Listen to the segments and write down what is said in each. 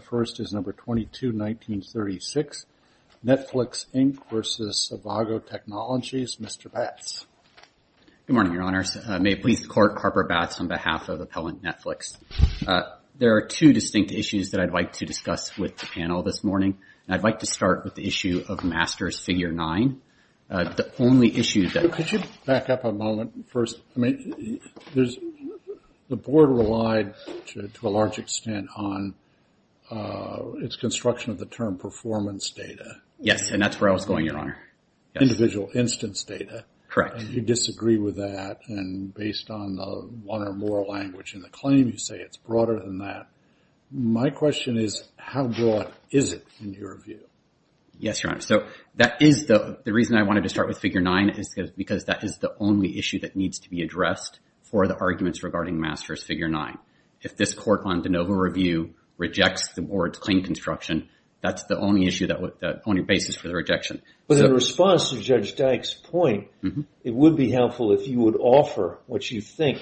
The first is No. 22-1936, Netflix, Inc. v. Avago Technologies. Mr. Batts. Good morning, Your Honors. May it please the Court, Harper Batts on behalf of Appellant Netflix. There are two distinct issues that I'd like to discuss with the panel this morning. And I'd like to start with the issue of Master's Figure 9. The only issue that- Yes, and that's where I was going, Your Honor. Yes, Your Honor. So that is the- the reason I wanted to start with Figure 9 is because that is the only issue that needs to be addressed for the arguments regarding Master's Figure 9. If this Court on de novo review rejects the Board's claim construction, that's the only issue that would- the only basis for the rejection. But in response to Judge Dyck's point, it would be helpful if you would offer what you think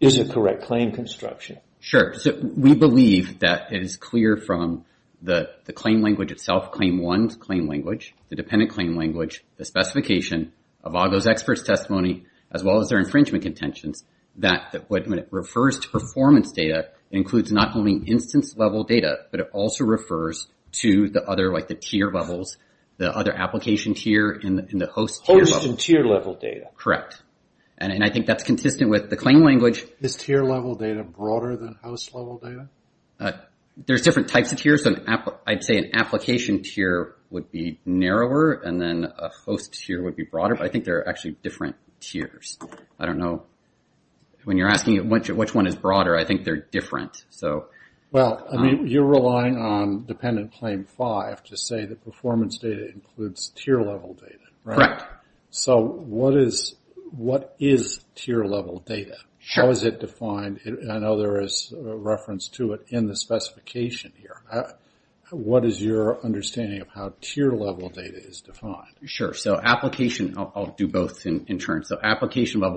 is a correct claim construction. Sure. So we believe that it is clear from the claim language itself, Claim 1's claim language, the dependent claim language, the specification of Avago's expert's testimony, as well as their infringement contentions, that when it refers to performance data, it includes not only instance-level data, but it also refers to the other, like the tier levels, the other application tier and the host- Host and tier-level data. Correct. And I think that's consistent with the claim language. Is tier-level data broader than host-level data? There's different types of tiers. I'd say an application tier would be narrower, and then a host tier would be broader. But I think there are actually different tiers. I don't know. When you're asking which one is broader, I think they're different. So- Well, I mean, you're relying on dependent claim 5 to say that performance data includes tier-level data, right? Correct. So what is tier-level data? How is it defined? I know there is a reference to it in the specification here. What is your inference? Application-level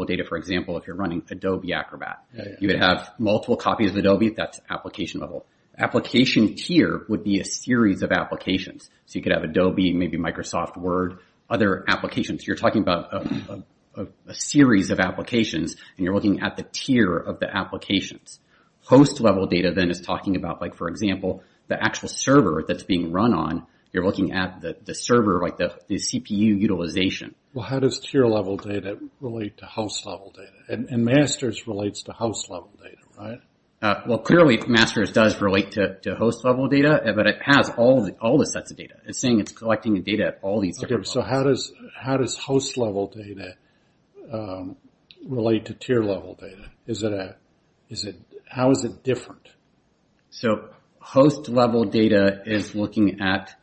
data, for example, if you're running Adobe Acrobat, you would have multiple copies of Adobe. That's application-level. Application tier would be a series of applications. So you could have Adobe, maybe Microsoft Word, other applications. You're talking about a series of applications, and you're looking at the tier of the applications. Host-level data then is talking about, for example, the actual server that's being run on. You're looking at the server, the CPU utilization. Well, how does tier-level data relate to host-level data? And Masters relates to host-level data, right? Well, clearly, Masters does relate to host-level data, but it has all the sets of data. It's saying it's collecting the data at all these different levels. Okay. So how does host-level data relate to tier-level data? How is it different? So host-level data is looking at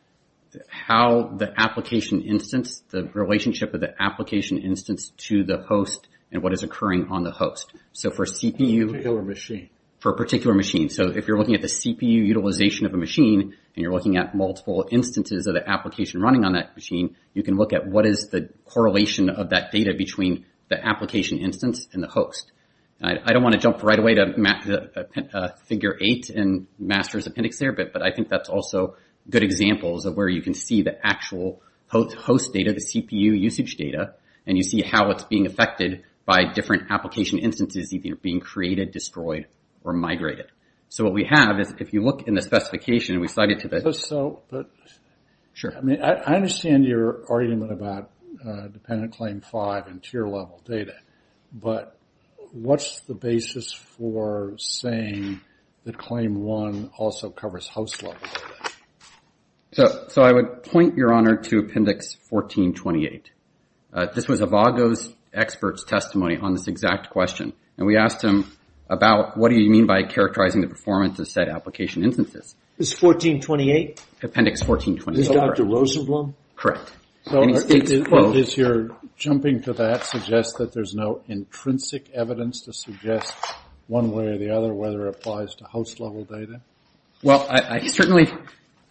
how the application instance, the relationship of the application instance to the host and what is occurring on the host. So for CPU... For a particular machine. For a particular machine. So if you're looking at the CPU utilization of a machine, and you're looking at multiple instances of the application running on that machine, you can look at what is the correlation of that data between the application instance and the host. I don't want to jump right away to Figure 8 in good examples of where you can see the actual host data, the CPU usage data, and you see how it's being affected by different application instances either being created, destroyed, or migrated. So what we have is, if you look in the specification and we slide it to the... So... Sure. I mean, I understand your argument about dependent claim 5 and tier-level data, but what's the basis for saying that claim 1 also covers host-level data? So I would point, Your Honor, to Appendix 1428. This was a VAGO's expert's testimony on this exact question, and we asked him about, what do you mean by characterizing the performance of said application instances? Is 1428? Appendix 1428. Is Dr. Rosenblum? Correct. And he states, Does your jumping to that suggest that there's no intrinsic evidence to suggest one way or the other whether it applies to host-level data? Well, I certainly...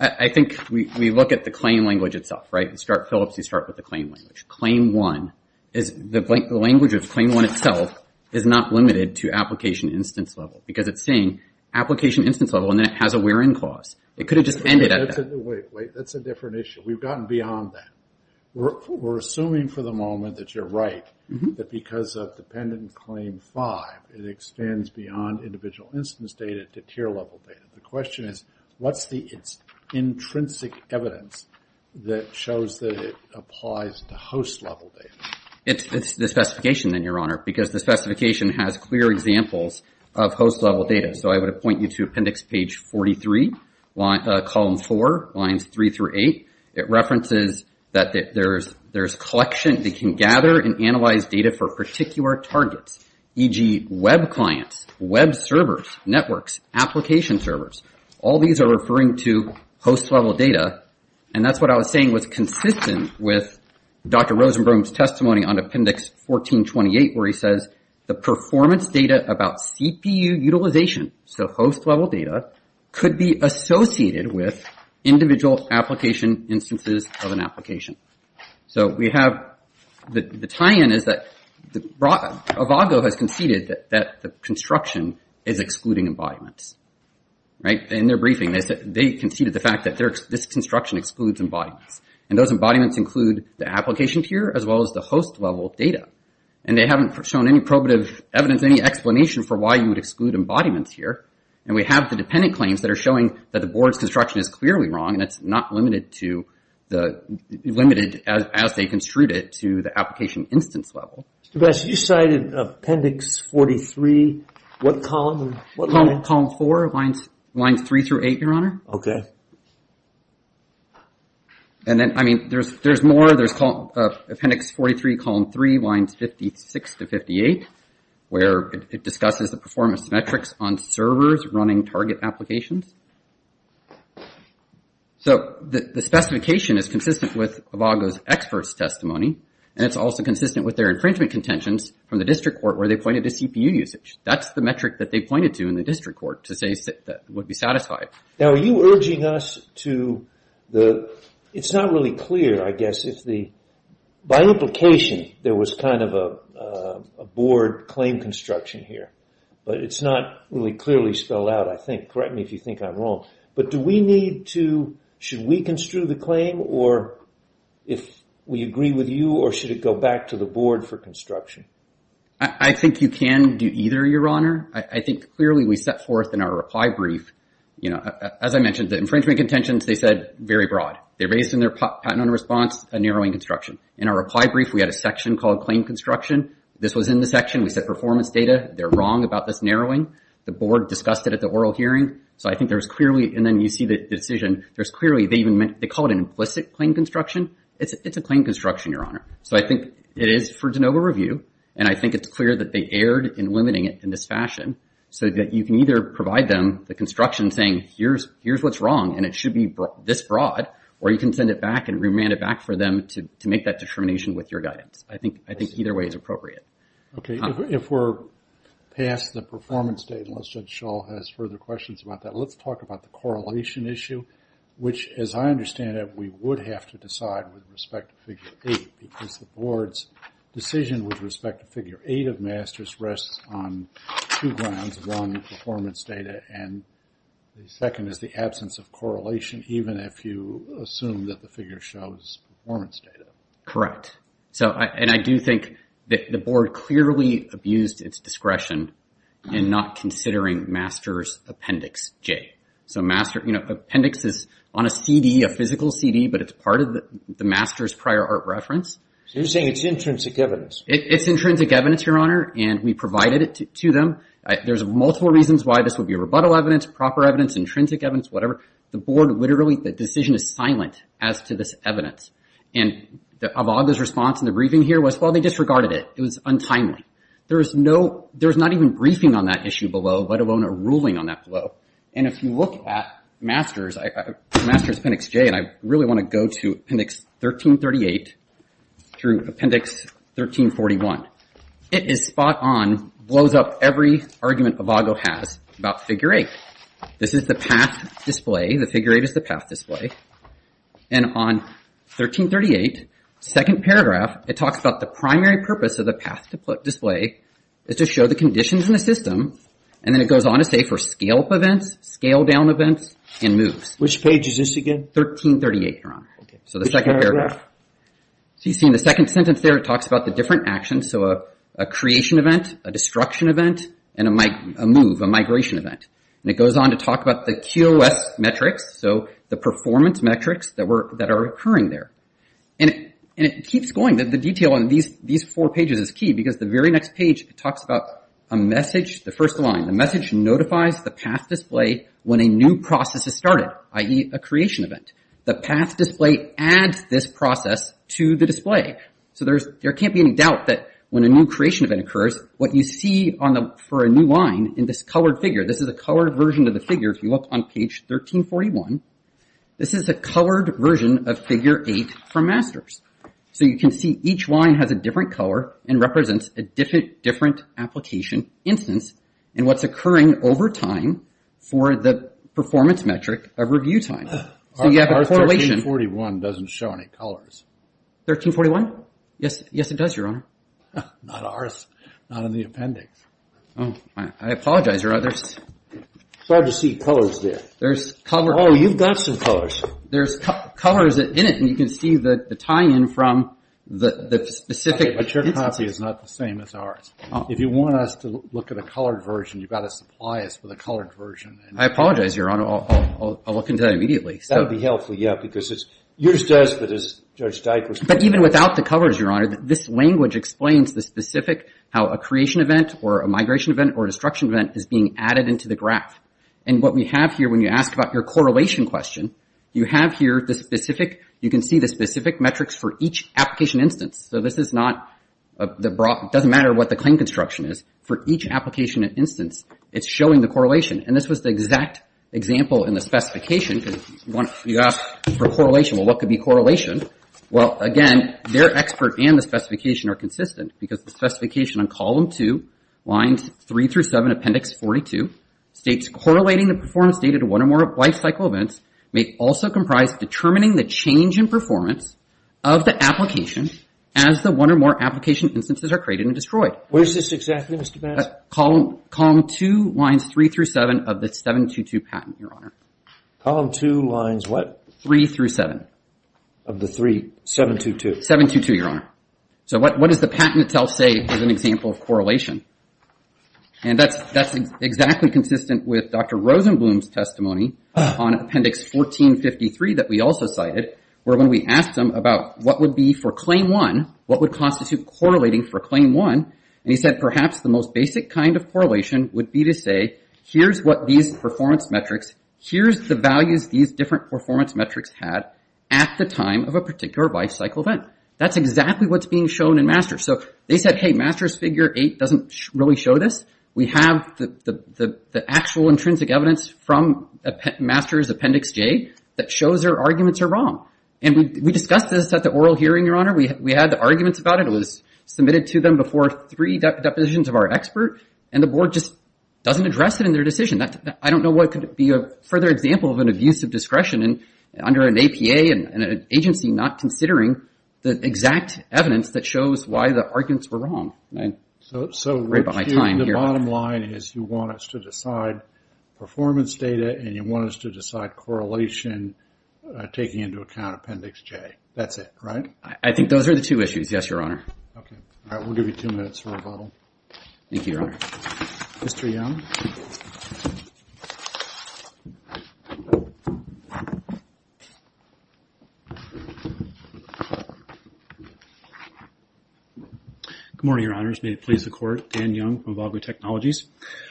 I think we look at the claim language itself, right? You start with the claim language. Claim 1 is... The language of claim 1 itself is not limited to application instance level, because it's saying application instance level, and then it has a where-in clause. It could have just ended at that. Wait, wait. That's a different issue. We've gotten beyond that. We're assuming for the moment that you're right, that because of dependent claim 5, it extends beyond individual instance data to tier-level data. The question is, what's the intrinsic evidence that shows that it applies to host-level data? It's the specification then, Your Honor, because the specification has clear examples of host-level data. So I would point you to Appendix Page 43, Column 4, Lines 3 through 8. It references that there's collection that can gather and analyze data for particular targets, e.g., web clients, web servers, networks, application servers. All these are referring to host-level data, and that's what I was saying was consistent with Dr. Rosenblum's testimony on Appendix 1428, where he says the performance data about CPU utilization, so host-level data, could be associated with individual application instances of an application. So we have the tie-in is that Avago has conceded that the construction is excluding embodiments, right? In their briefing, they conceded the fact that this construction excludes embodiments, and those embodiments include the application tier as well as the host-level data. And they haven't shown any probative evidence, any explanation for why you would exclude embodiments here. And we have the dependent claims that are showing that the board's construction is clearly wrong, and it's not limited as they construed it to the application instance level. Mr. Bassett, you cited Appendix 43, what column? Column 4, Lines 3 through 8, Your Honor. Okay. And then, I mean, there's more. There's Appendix 43, Column 3, Lines 56 to 58, where it discusses the performance metrics on servers running target applications. So the specification is consistent with Avago's experts' testimony, and it's also consistent with their infringement contentions from the district court, where they pointed to CPU usage. That's the metric that they pointed to in the district court to say that would be satisfied. Now, are you urging us to the... It's not really clear, I guess, if the... By implication, there was kind of a board claim construction here, but it's not really clearly spelled out, I think. Correct me if you think I'm wrong. But do we need to... Should we construe the claim, or if we agree with you, or should it go back to the board for construction? I think you can do either, Your Honor. I think clearly we set forth in our reply brief, as I mentioned, the infringement contentions, they said, very broad. They raised in their patent on response a narrowing construction. In our reply brief, we had a section called claim construction. This was in the section. We set performance data. They're wrong about this narrowing. The board discussed it at the oral hearing. So I think there was clearly... And then you see the decision. There's clearly... They even meant... They call it an implicit claim construction. It's a claim construction, Your Honor. So I think it is for de novo review, and I think it's clear that they erred in limiting it in this fashion, so that you can either provide them the construction saying, here's what's wrong, and it should be this broad, or you can send it back and remand it back for them to make that determination with your guidance. I think either way is appropriate. Okay. If we're past the performance date, unless Judge Schall has further questions about that, let's talk about the correlation issue, which, as I understand it, we would have to decide with respect to Figure 8, because the board's decision with respect to Figure 8 of MASTERS rests on two grounds. One, performance data, and the second is the absence of correlation, even if you assume that the figure shows performance data. Correct. And I do think that the board clearly abused its discretion in not considering MASTERS Appendix J. So appendix is on a CD, a physical CD, but it's part of the MASTERS prior art reference. So you're saying it's intrinsic evidence? It's intrinsic evidence, Your Honor, and we provided it to them. There's multiple reasons why this would be rebuttal evidence, proper evidence, intrinsic evidence, whatever. The board literally, the decision is silent as to this evidence. And Avada's response in the briefing here was, well, they disregarded it. It was untimely. There's not even briefing on that issue below, let alone a ruling on that below. And if you look at MASTERS Appendix J, and I It is spot on, blows up every argument Avada has about Figure 8. This is the path display, the Figure 8 is the path display. And on 1338, second paragraph, it talks about the primary purpose of the path display is to show the conditions in the system. And then it goes on to say for scale up events, scale down events, and moves. Which page is this again? 1338, Your Honor. So the second paragraph. So you see in the second sentence there, it talks about the different actions. So a creation event, a destruction event, and a move, a migration event. And it goes on to talk about the QOS metrics. So the performance metrics that are occurring there. And it keeps going. The detail on these four pages is key because the very next page, it talks about a message, the first line. The message notifies the path display when a new process is started, i.e. a creation event. The path display adds this There can't be any doubt that when a new creation event occurs, what you see for a new line in this colored figure, this is a colored version of the figure if you look on page 1341, this is a colored version of Figure 8 from Masters. So you can see each line has a different color and represents a different application instance and what's occurring over time for the performance metric of review time. 1341 doesn't show any colors. 1341? Yes, it does, Your Honor. Not ours. Not in the appendix. I apologize, Your Honor. It's hard to see colors there. There's color. Oh, you've got some colors. There's colors in it. And you can see the tie-in from the specific instance. But your copy is not the same as ours. If you want us to look at a colored version, you've got to supply us with a colored version. I apologize, Your Honor. I'll look into that immediately. That would be helpful, yeah, because it's yours does, but it's Judge Dykstra's. But even without the colors, Your Honor, this language explains the specific how a creation event or a migration event or a destruction event is being added into the graph. And what we have here when you ask about your correlation question, you have here the specific, you can see the specific metrics for each application instance. So this is not, it doesn't matter what the claim construction is for each application instance. It's showing the correlation. And this was the exact example in the specification because you asked for correlation. Well, what could be correlation? Well, again, their expert and the specification are consistent because the specification on column two, lines three through seven, appendix 42, states correlating the performance data to one or more life cycle events may also comprise determining the change in performance of the application as the one or more application instances are created and destroyed. Where's this exactly, Mr. Banzer? Column two, lines three through seven of the 722 patent, Your Honor. Column two, lines what? Three through seven. Of the three, 722? 722, Your Honor. So what does the patent itself say is an example of correlation? And that's exactly consistent with Dr. Rosenblum's testimony on appendix 1453 that we also cited, where when we asked him about what would be for claim one, what would constitute correlating for claim one, and he said perhaps the most basic kind of correlation would be to say, here's what these performance metrics, here's the values these different performance metrics had at the time of a particular life cycle event. That's exactly what's being shown in MASTERS. So they said, hey, MASTERS figure eight doesn't really show this. We have the actual intrinsic evidence from MASTERS appendix J that shows their arguments are wrong. And we discussed this at the oral hearing, Your Honor. We had the arguments about it. It was submitted to them before three depositions of our expert, and the board just doesn't address it in their decision. I don't know what could be a further example of an abuse of discretion under an APA and an agency not considering the exact evidence that shows why the arguments were wrong. Right behind time here. So the bottom line is you want us to decide performance data, and you want us to decide correlation taking into account appendix J. That's it, right? I think those are the two issues, yes, Your Honor. Okay. All right. We'll give you two minutes for rebuttal. Thank you, Your Honor. Mr. Young. Good morning, Your Honors. May it please the Court. Dan Young from Evago Technologies.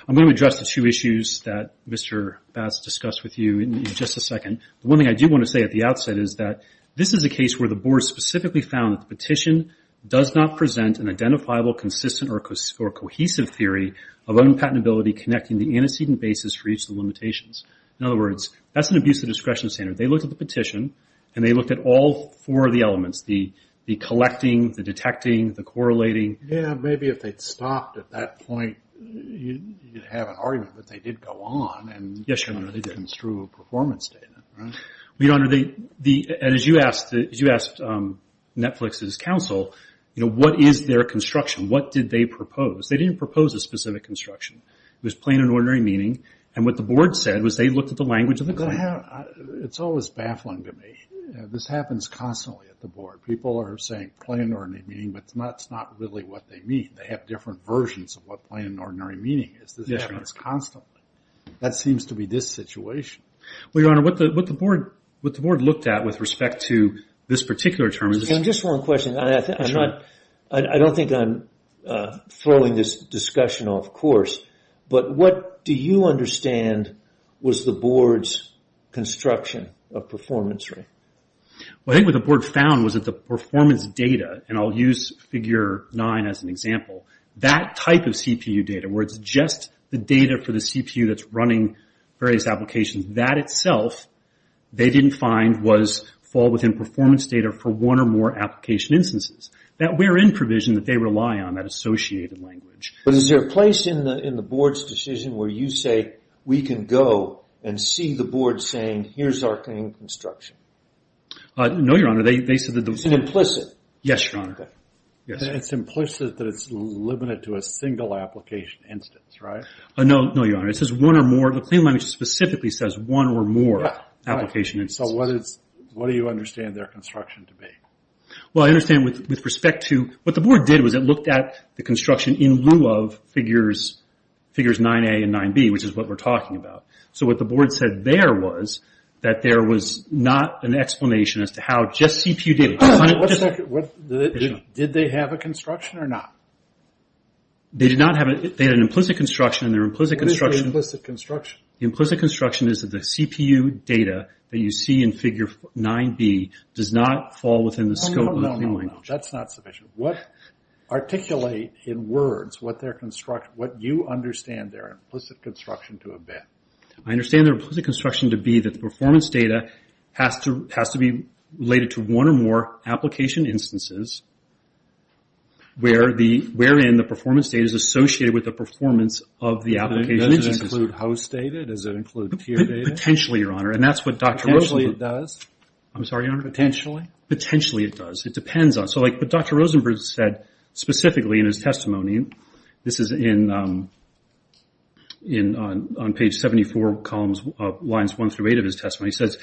I'm going to address the two issues that Mr. Bass discussed with you in just a second. The one thing I do want to say at the outset is that this is a case where the board specifically found that the petition does not present an identifiable, consistent, or cohesive theory of unpatentability connecting the antecedent basis for each of the limitations. In other words, that's an abuse of discretion standard. They looked at the petition, and they looked at all four of the elements, the collecting, the detecting, the correlating. Yeah, maybe if they'd stopped at that point, you'd have an argument that they did go on and Yes, Your Honor, they did. Construe a performance data, right? Well, Your Honor, as you asked Netflix's counsel, what is their construction? What did they propose? They didn't propose a specific construction. It was plain and ordinary meaning, and what the board said was they looked at the language of the claim. It's always baffling to me. This happens constantly at the board. People are saying plain and ordinary meaning, but it's not really what they mean. They have different versions of what plain and ordinary meaning is. This happens constantly. That seems to be this situation. Well, Your Honor, what the board looked at with respect to this particular term is Just one question. I don't think I'm throwing this discussion off course, but what do you understand was the board's construction of performance rate? Well, I think what the board found was that the performance data, and I'll use Figure 9 as an example, that type of CPU data where it's just the data for the CPU that's running various applications, that itself they didn't find was fall within performance data for one or more application instances. That we're in provision that they rely on, that associated language. But is there a place in the board's decision where you say, we can go and see the board saying, here's our claim construction? No, Your Honor. It's implicit? Yes, Your Honor. It's implicit that it's limited to a single application instance, right? No, Your Honor. The claim language specifically says one or more application instances. What do you understand their construction to be? Well, I understand with respect to, what the board did was it looked at the construction in lieu of figures 9A and 9B, which is what we're talking about. What the board said there was that there was not an explanation as to how just CPU data. Did they have a construction or not? They did not have it. They had an implicit construction. What is the implicit construction? The implicit construction is that the CPU data that you see in figure 9B does not fall within the scope of the claim language. No, no, no. That's not sufficient. Articulate in words what you understand their implicit construction to have been. I understand their implicit construction to be that the performance data has to be related to one or more application instances wherein the performance data is associated with the performance of the application. Does it include house data? Does it include tier data? Potentially, Your Honor. Potentially it does? I'm sorry, Your Honor. Potentially? Potentially it does. It depends on. So like what Dr. Rosenberg said specifically in his testimony, this is on page 74 columns of lines 1 through 8 of his testimony. He says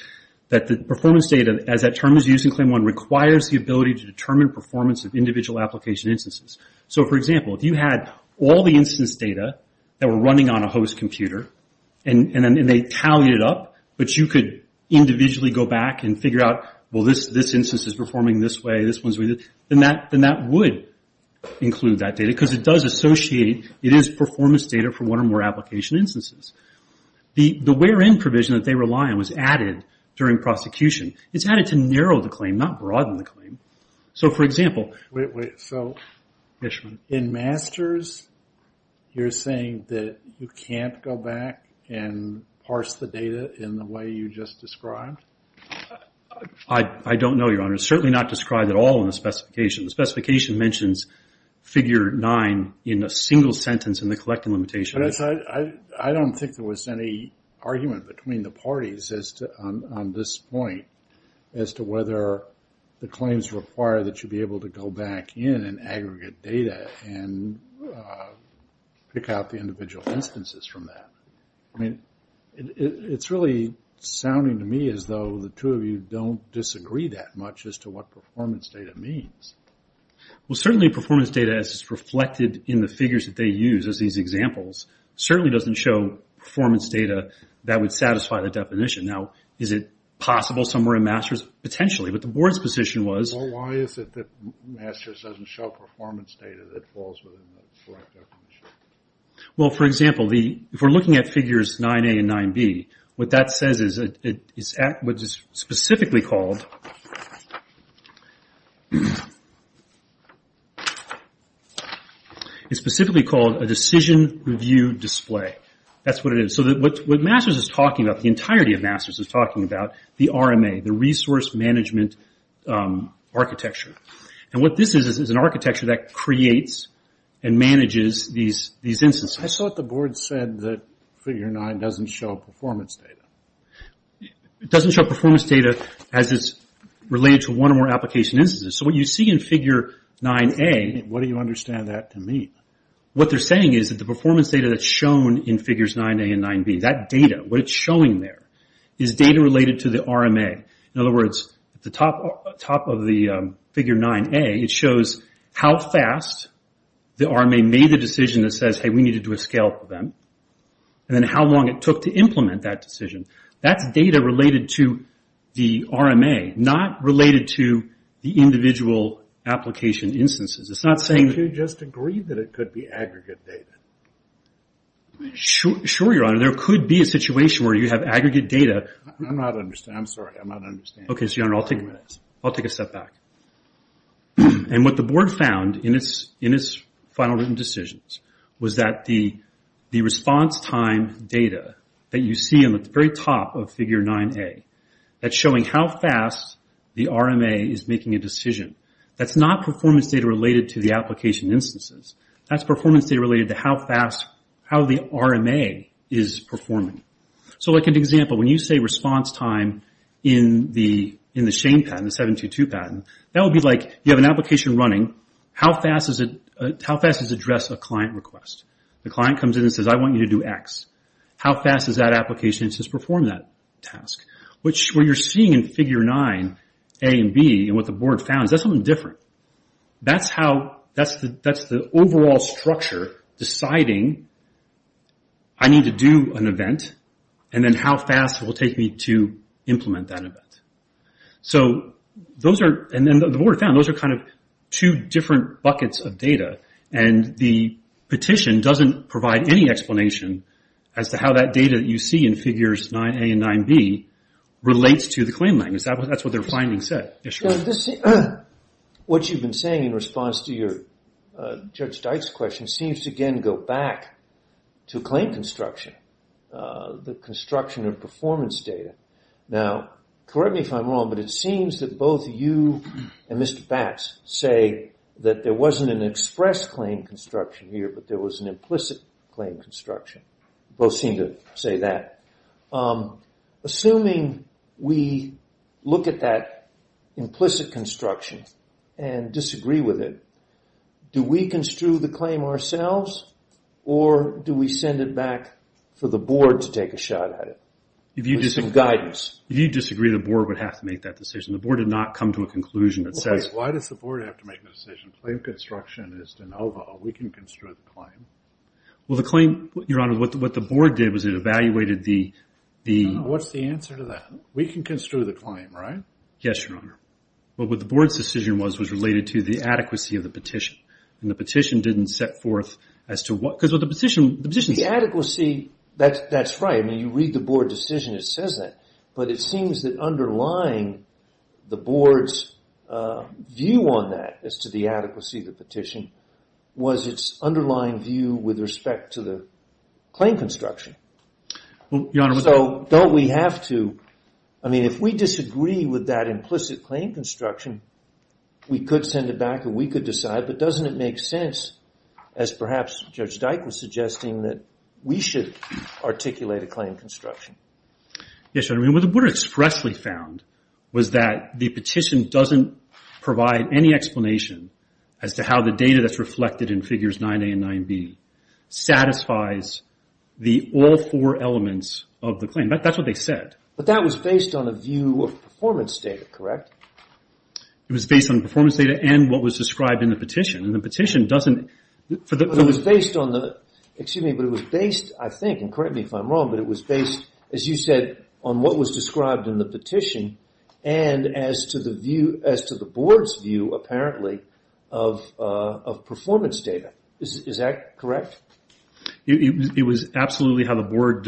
that the performance data as that term is used in claim 1 requires the ability to determine performance of individual application instances. So for example, if you had all the instance data that were running on a host computer and they tallied it up, but you could individually go back and figure out, well, this instance is performing this way, this one's doing that, then that would include that data because it does associate, it is performance data for one or more application instances. The wherein provision that they rely on was added during prosecution. It's added to narrow the claim, not broaden the claim. So for example... Wait, wait. So... Yes, Your Honor. You're saying that you can't go back and parse the data in the way you just described? I don't know, Your Honor. It's certainly not described at all in the specification. The specification mentions figure 9 in a single sentence in the collecting limitation. I don't think there was any argument between the parties on this point as to whether the pick out the individual instances from that. I mean, it's really sounding to me as though the two of you don't disagree that much as to what performance data means. Well, certainly performance data as it's reflected in the figures that they use as these examples, certainly doesn't show performance data that would satisfy the definition. Now, is it possible somewhere in MASTERS? Potentially, but the board's position was... MASTERS doesn't show performance data that falls within the correct definition. Well, for example, if we're looking at figures 9A and 9B, what that says is, it's specifically called a decision review display. That's what it is. So what MASTERS is talking about, the entirety of MASTERS is talking about the RMA, the resource management architecture. What this is, is an architecture that creates and manages these instances. I thought the board said that figure 9 doesn't show performance data. It doesn't show performance data as it's related to one or more application instances. So what you see in figure 9A... What do you understand that to mean? What they're saying is that the performance data that's shown in figures 9A and 9B, that data, what it's showing there, is data related to the RMA. In other words, at the top of the figure 9A, it shows how fast the RMA made the decision that says, hey, we need to do a scale up event, and then how long it took to implement that decision. That's data related to the RMA, not related to the individual application instances. It's not saying... Could you just agree that it could be aggregate data? Sure, your honor. There could be a situation where you have aggregate data... I'm not understanding. I'm sorry. I'm not understanding. Okay, so your honor, I'll take a step back. What the board found in its final written decisions was that the response time data that you see in the very top of figure 9A, that's showing how fast the RMA is making a decision. That's not performance data related to the application instances. That's performance data related to how fast, how the RMA is performing. So like an example, when you say response time in the shame patent, the 722 patent, that would be like, you have an application running, how fast does it address a client request? The client comes in and says, I want you to do X. How fast does that application perform that task? Which, what you're seeing in figure 9A and 9B, and what the board found, that's something different. That's how, that's the overall structure deciding, I need to do an event, and then how fast it will take me to implement that event. So those are, and then the board found, those are kind of two different buckets of data. And the petition doesn't provide any explanation as to how that data that you see in figures 9A and 9B relates to the claim language. That's what their findings said. So this, what you've been saying in response to your, Judge Dyke's question, seems to again go back to claim construction. The construction of performance data. Now, correct me if I'm wrong, but it seems that both you and Mr. Bax say that there wasn't an express claim construction here, but there was an implicit claim construction. Both seem to say that. Assuming we look at that implicit construction and disagree with it, do we construe the claim ourselves, or do we send it back for the board to take a shot at it? If you disagree, the board would have to make that decision. The board did not come to a conclusion that says... Wait, why does the board have to make a decision? Claim construction is de novo. We can construe the claim. Well, the claim, Your Honor, what the board did was it What's the answer to that? We can construe the claim, right? Yes, Your Honor. But what the board's decision was, was related to the adequacy of the petition. And the petition didn't set forth as to what... Because with the petition... The adequacy, that's right. I mean, you read the board decision, it says that. But it seems that underlying the board's view on that as to the adequacy of the Don't we have to... I mean, if we disagree with that implicit claim construction, we could send it back and we could decide. But doesn't it make sense, as perhaps Judge Dyke was suggesting, that we should articulate a claim construction? Yes, Your Honor. What the board expressly found was that the petition doesn't provide any explanation as to how the data that's reflected in Figures 9A and 9B satisfies the all four elements of the claim. That's what they said. But that was based on a view of performance data, correct? It was based on performance data and what was described in the petition. And the petition doesn't... But it was based on the... Excuse me, but it was based, I think, and correct me if I'm wrong, but it was based, as you said, on what was described in the petition and as to the view, as to the board's view, apparently, of performance data. Is that correct? It was absolutely how the board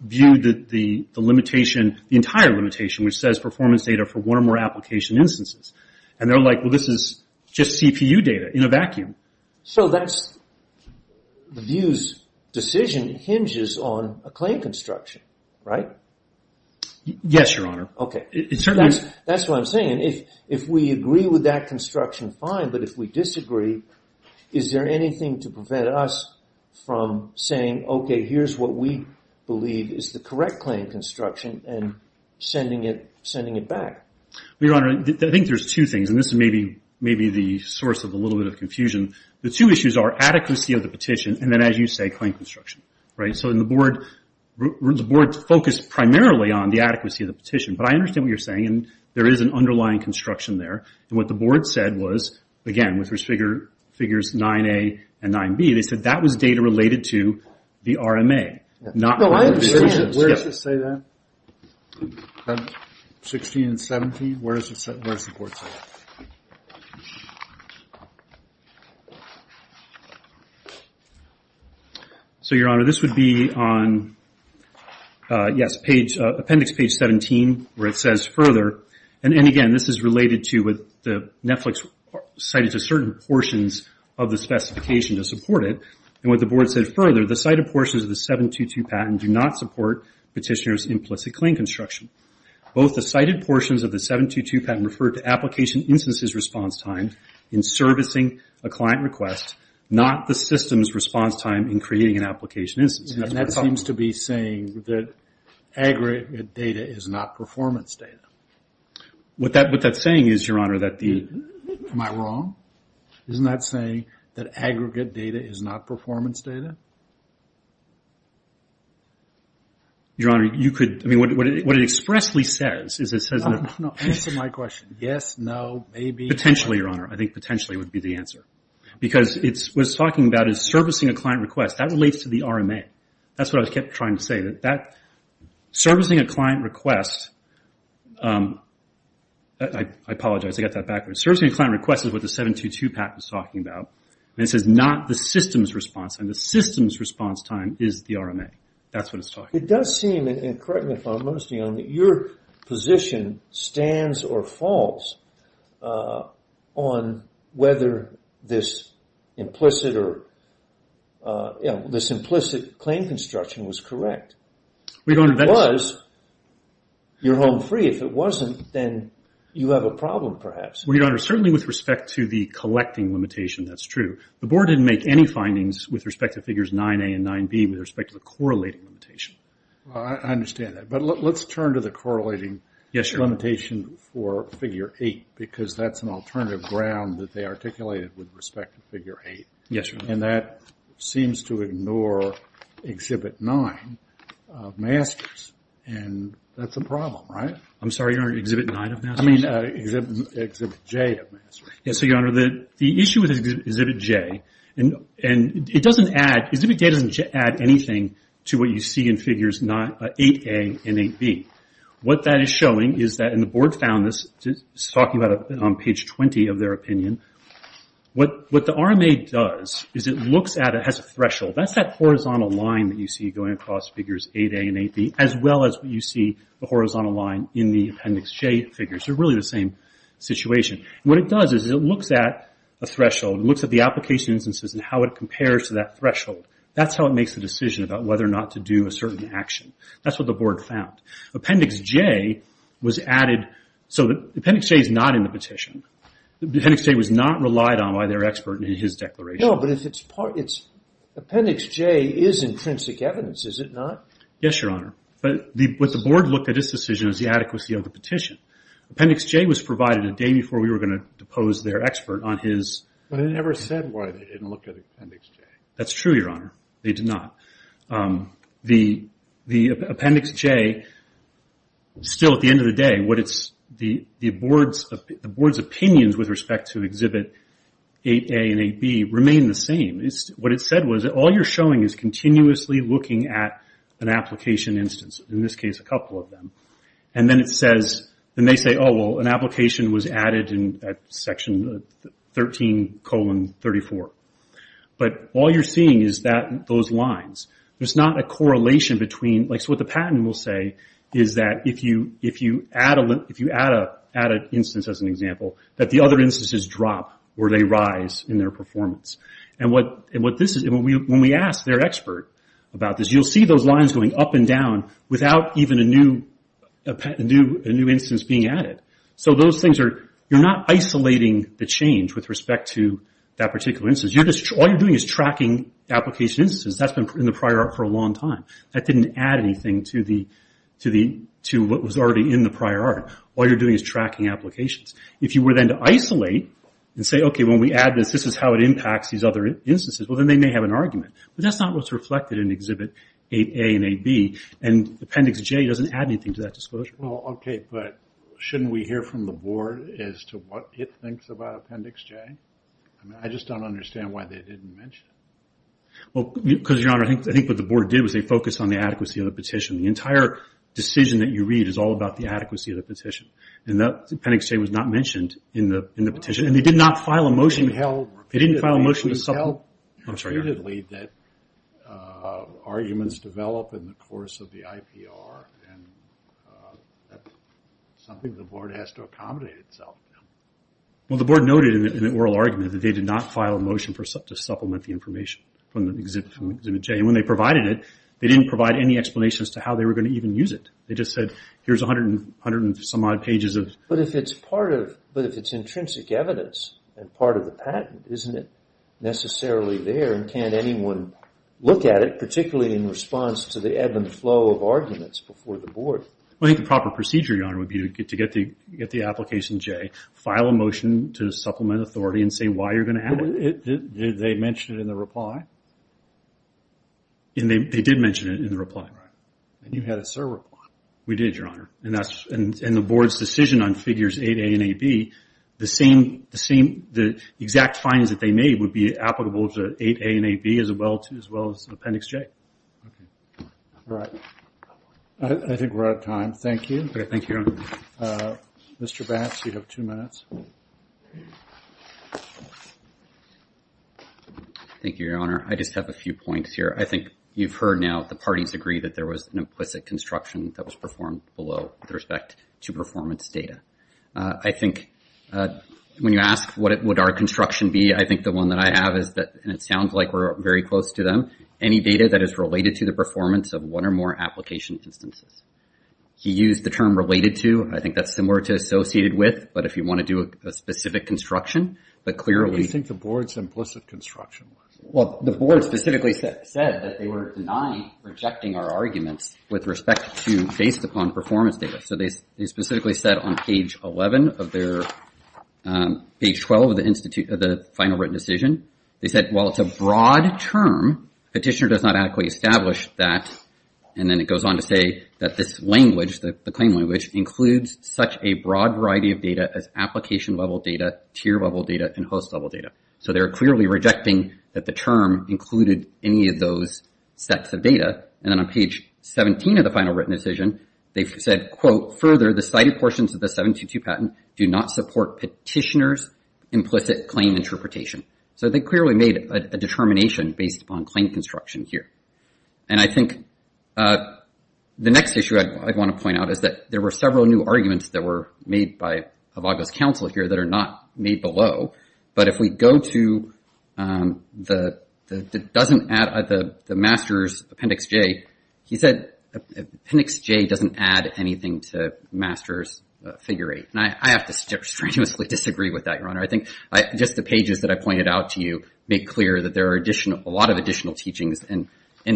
viewed the limitation, the entire limitation, which says performance data for one or more application instances. And they're like, well, this is just CPU data in a vacuum. So that's the view's decision hinges on a claim construction, right? Yes, Your Honor. Okay. That's what I'm saying. If we agree with that construction, fine. But if we disagree, is there anything to prevent us from saying, okay, here's what we believe is the correct claim construction and sending it back? Your Honor, I think there's two things, and this is maybe the source of a little bit of confusion. The two issues are adequacy of the petition and then, as you say, claim construction, right? So the board focused primarily on the adequacy of the petition. But I understand what you're saying, and there is an underlying construction there. And what the board said was, again, with figures 9A and 9B, they said that was data related to the RMA. No, I understand. Where does it say that? 16 and 17, where does the board say that? So, Your Honor, this would be on, yes, appendix page 17, where it says further. And again, this is related to what the Netflix cited to certain portions of the specification to support it. And what the board said further, the cited portions of the 722 patent do not support petitioner's implicit claim construction. Both the cited portions of the 722 patent refer to application instances response time in servicing a client request, not the system's response time in creating an application instance. And that seems to be saying that aggregate data is not performance data. Am I wrong? Isn't that saying that aggregate data is not performance data? Your Honor, you could, I mean, what it expressly says is it says that... No, no, answer my question. Yes, no, maybe... Potentially, Your Honor. I think potentially would be the answer. Because what it's talking about is servicing a client request. That relates to the RMA. That's what I kept trying to say, that servicing a client request... I apologize, I got that backwards. Servicing a client request is what the 722 patent is talking about. And it says not the system's response, and the system's response time is the RMA. That's what it's talking about. It does seem, and correct me if I'm wrong, Mr. Young, that your position stands or falls on whether this implicit claim construction was correct. Because you're home free. If it wasn't, then you have a problem, perhaps. Well, Your Honor, certainly with respect to the collecting limitation, that's true. The board didn't make any findings with respect to figures 9A and 9B with respect to the correlating limitation. I understand that. But let's turn to the correlating limitation for figure 8, because that's an alternative ground that they articulated with respect to figure 8. And that seems to ignore Exhibit 9 of MASTERS, and that's a problem, right? I'm sorry, Your Honor, Exhibit 9 of MASTERS? I mean, Exhibit J of MASTERS. Yes, Your Honor, the issue with Exhibit J, and it doesn't add, Exhibit J doesn't add anything to what you see in figures 8A and 8B. What that is showing is that, and the board found this, talking about it on page 20 of their opinion, what the RMA does is it looks at it as a threshold. That's that horizontal line that you see going across figures 8A and 8B, as well as what you see the horizontal line in the Appendix J figures. They're really the same situation. What it does is it looks at a threshold. It looks at the application instances and how it compares to that threshold. That's how it makes the decision about whether or not to do a certain action. That's what the board found. Appendix J was added, so Appendix J is not in the petition. Appendix J was not relied on by their expert in his declaration. No, but if it's part, Appendix J is intrinsic evidence, is it not? Yes, Your Honor, but what the board looked at this decision is the adequacy of the petition. Appendix J was provided a day before we were going to depose their expert on his... But it never said why they didn't look at Appendix J. That's true, Your Honor. They did not. The Appendix J, still at the end of the day, the board's opinions with respect to Exhibit 8A and 8B remain the same. What it said was, all you're showing is continuously looking at an application instance, in this case a couple of them. Then they say, oh, well, an application was added in Section 13, 34. All you're seeing is that those lines. There's not a correlation between... What the patent will say is that if you add an instance, as an example, that the other instances drop or they rise in their performance. When we ask their expert about this, you'll see those lines going up and down without even a new instance being added. You're not isolating the change with respect to that particular instance. All you're doing is tracking application instances. That's been in the prior art for a long time. That didn't add anything to what was already in the prior art. All you're doing is tracking applications. If you were then to isolate and say, okay, when we add this, this is how it impacts these other instances, well, then they may have an appendix J. It doesn't add anything to that disclosure. Well, okay, but shouldn't we hear from the board as to what it thinks about Appendix J? I just don't understand why they didn't mention it. Well, because, Your Honor, I think what the board did was they focused on the adequacy of the petition. The entire decision that you read is all about the adequacy of the petition. Appendix J was not mentioned in the petition. They did not file a motion. They didn't file a motion to supplement... ...that arguments develop in the course of the IPR. That's something the board has to accommodate itself to. Well, the board noted in the oral argument that they did not file a motion to supplement the information from Appendix J. When they provided it, they didn't provide any explanation as to how they were going to even use it. They just said, here's 100 and some odd pages of... But if it's intrinsic evidence and part of the patent, isn't it necessarily there and can't anyone look at it, particularly in response to the ebb and flow of arguments before the board? Well, I think the proper procedure, Your Honor, would be to get the application J, file a motion to supplement authority, and say why you're going to have it. They mentioned it in the reply? They did mention it in the reply. And you had a sir reply. We did, Your Honor. And the board's decision on Figures 8A and 8B, the exact findings that they made would be applicable to 8A and 8B as well as Appendix J. All right. I think we're out of time. Thank you. Mr. Batz, you have two minutes. Thank you, Your Honor. I just have a few points here. I think you've heard now the parties agree that there was an implicit construction that was performed below with respect to performance data. I think when you ask what would our construction be, I think the one that I have is that, and it sounds like we're very close to them, any data that is related to the performance of one or more application instances. He used the term related to. I think that's similar to associated with, but if you want to do a specific construction, but clearly... What do you think the board's implicit construction was? Well, the board specifically said that they were denying rejecting our arguments with respect to based upon performance data. So they specifically said on page 11 of their... Page 12 of the final written decision, they said, well, it's a broad term. Petitioner does not adequately establish that. And then it goes on to say that this language, the claim language, includes such a broad variety of data as application level data, tier level data, and host level data. So they're clearly rejecting that the term included any of those sets of data. And then on page 17 of the final written decision, they said, quote, further, the cited portions of the 722 patent do not support petitioner's implicit claim interpretation. So they clearly made a determination based upon claim construction here. And I think the next issue I'd want to point out is that there were several new arguments that were made below. But if we go to the Masters Appendix J, he said Appendix J doesn't add anything to Masters Figure 8. And I have to strenuously disagree with that, Your Honor. I think just the pages that I pointed out to you make clear that there are a lot of additional teachings in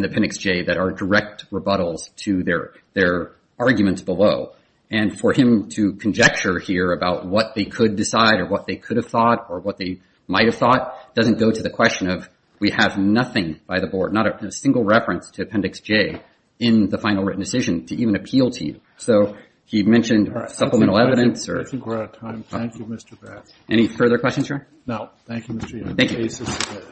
the Appendix J that are direct rebuttals to their arguments below. And for him to conjecture here about what they could decide or what they could have thought or what they might have thought doesn't go to the question of we have nothing by the board, not a single reference to Appendix J in the final written decision to even appeal to you. So he mentioned supplemental evidence or... I think we're out of time. Thank you, Mr. Bass. Any further questions, Your Honor? No. Thank you, Mr. Young.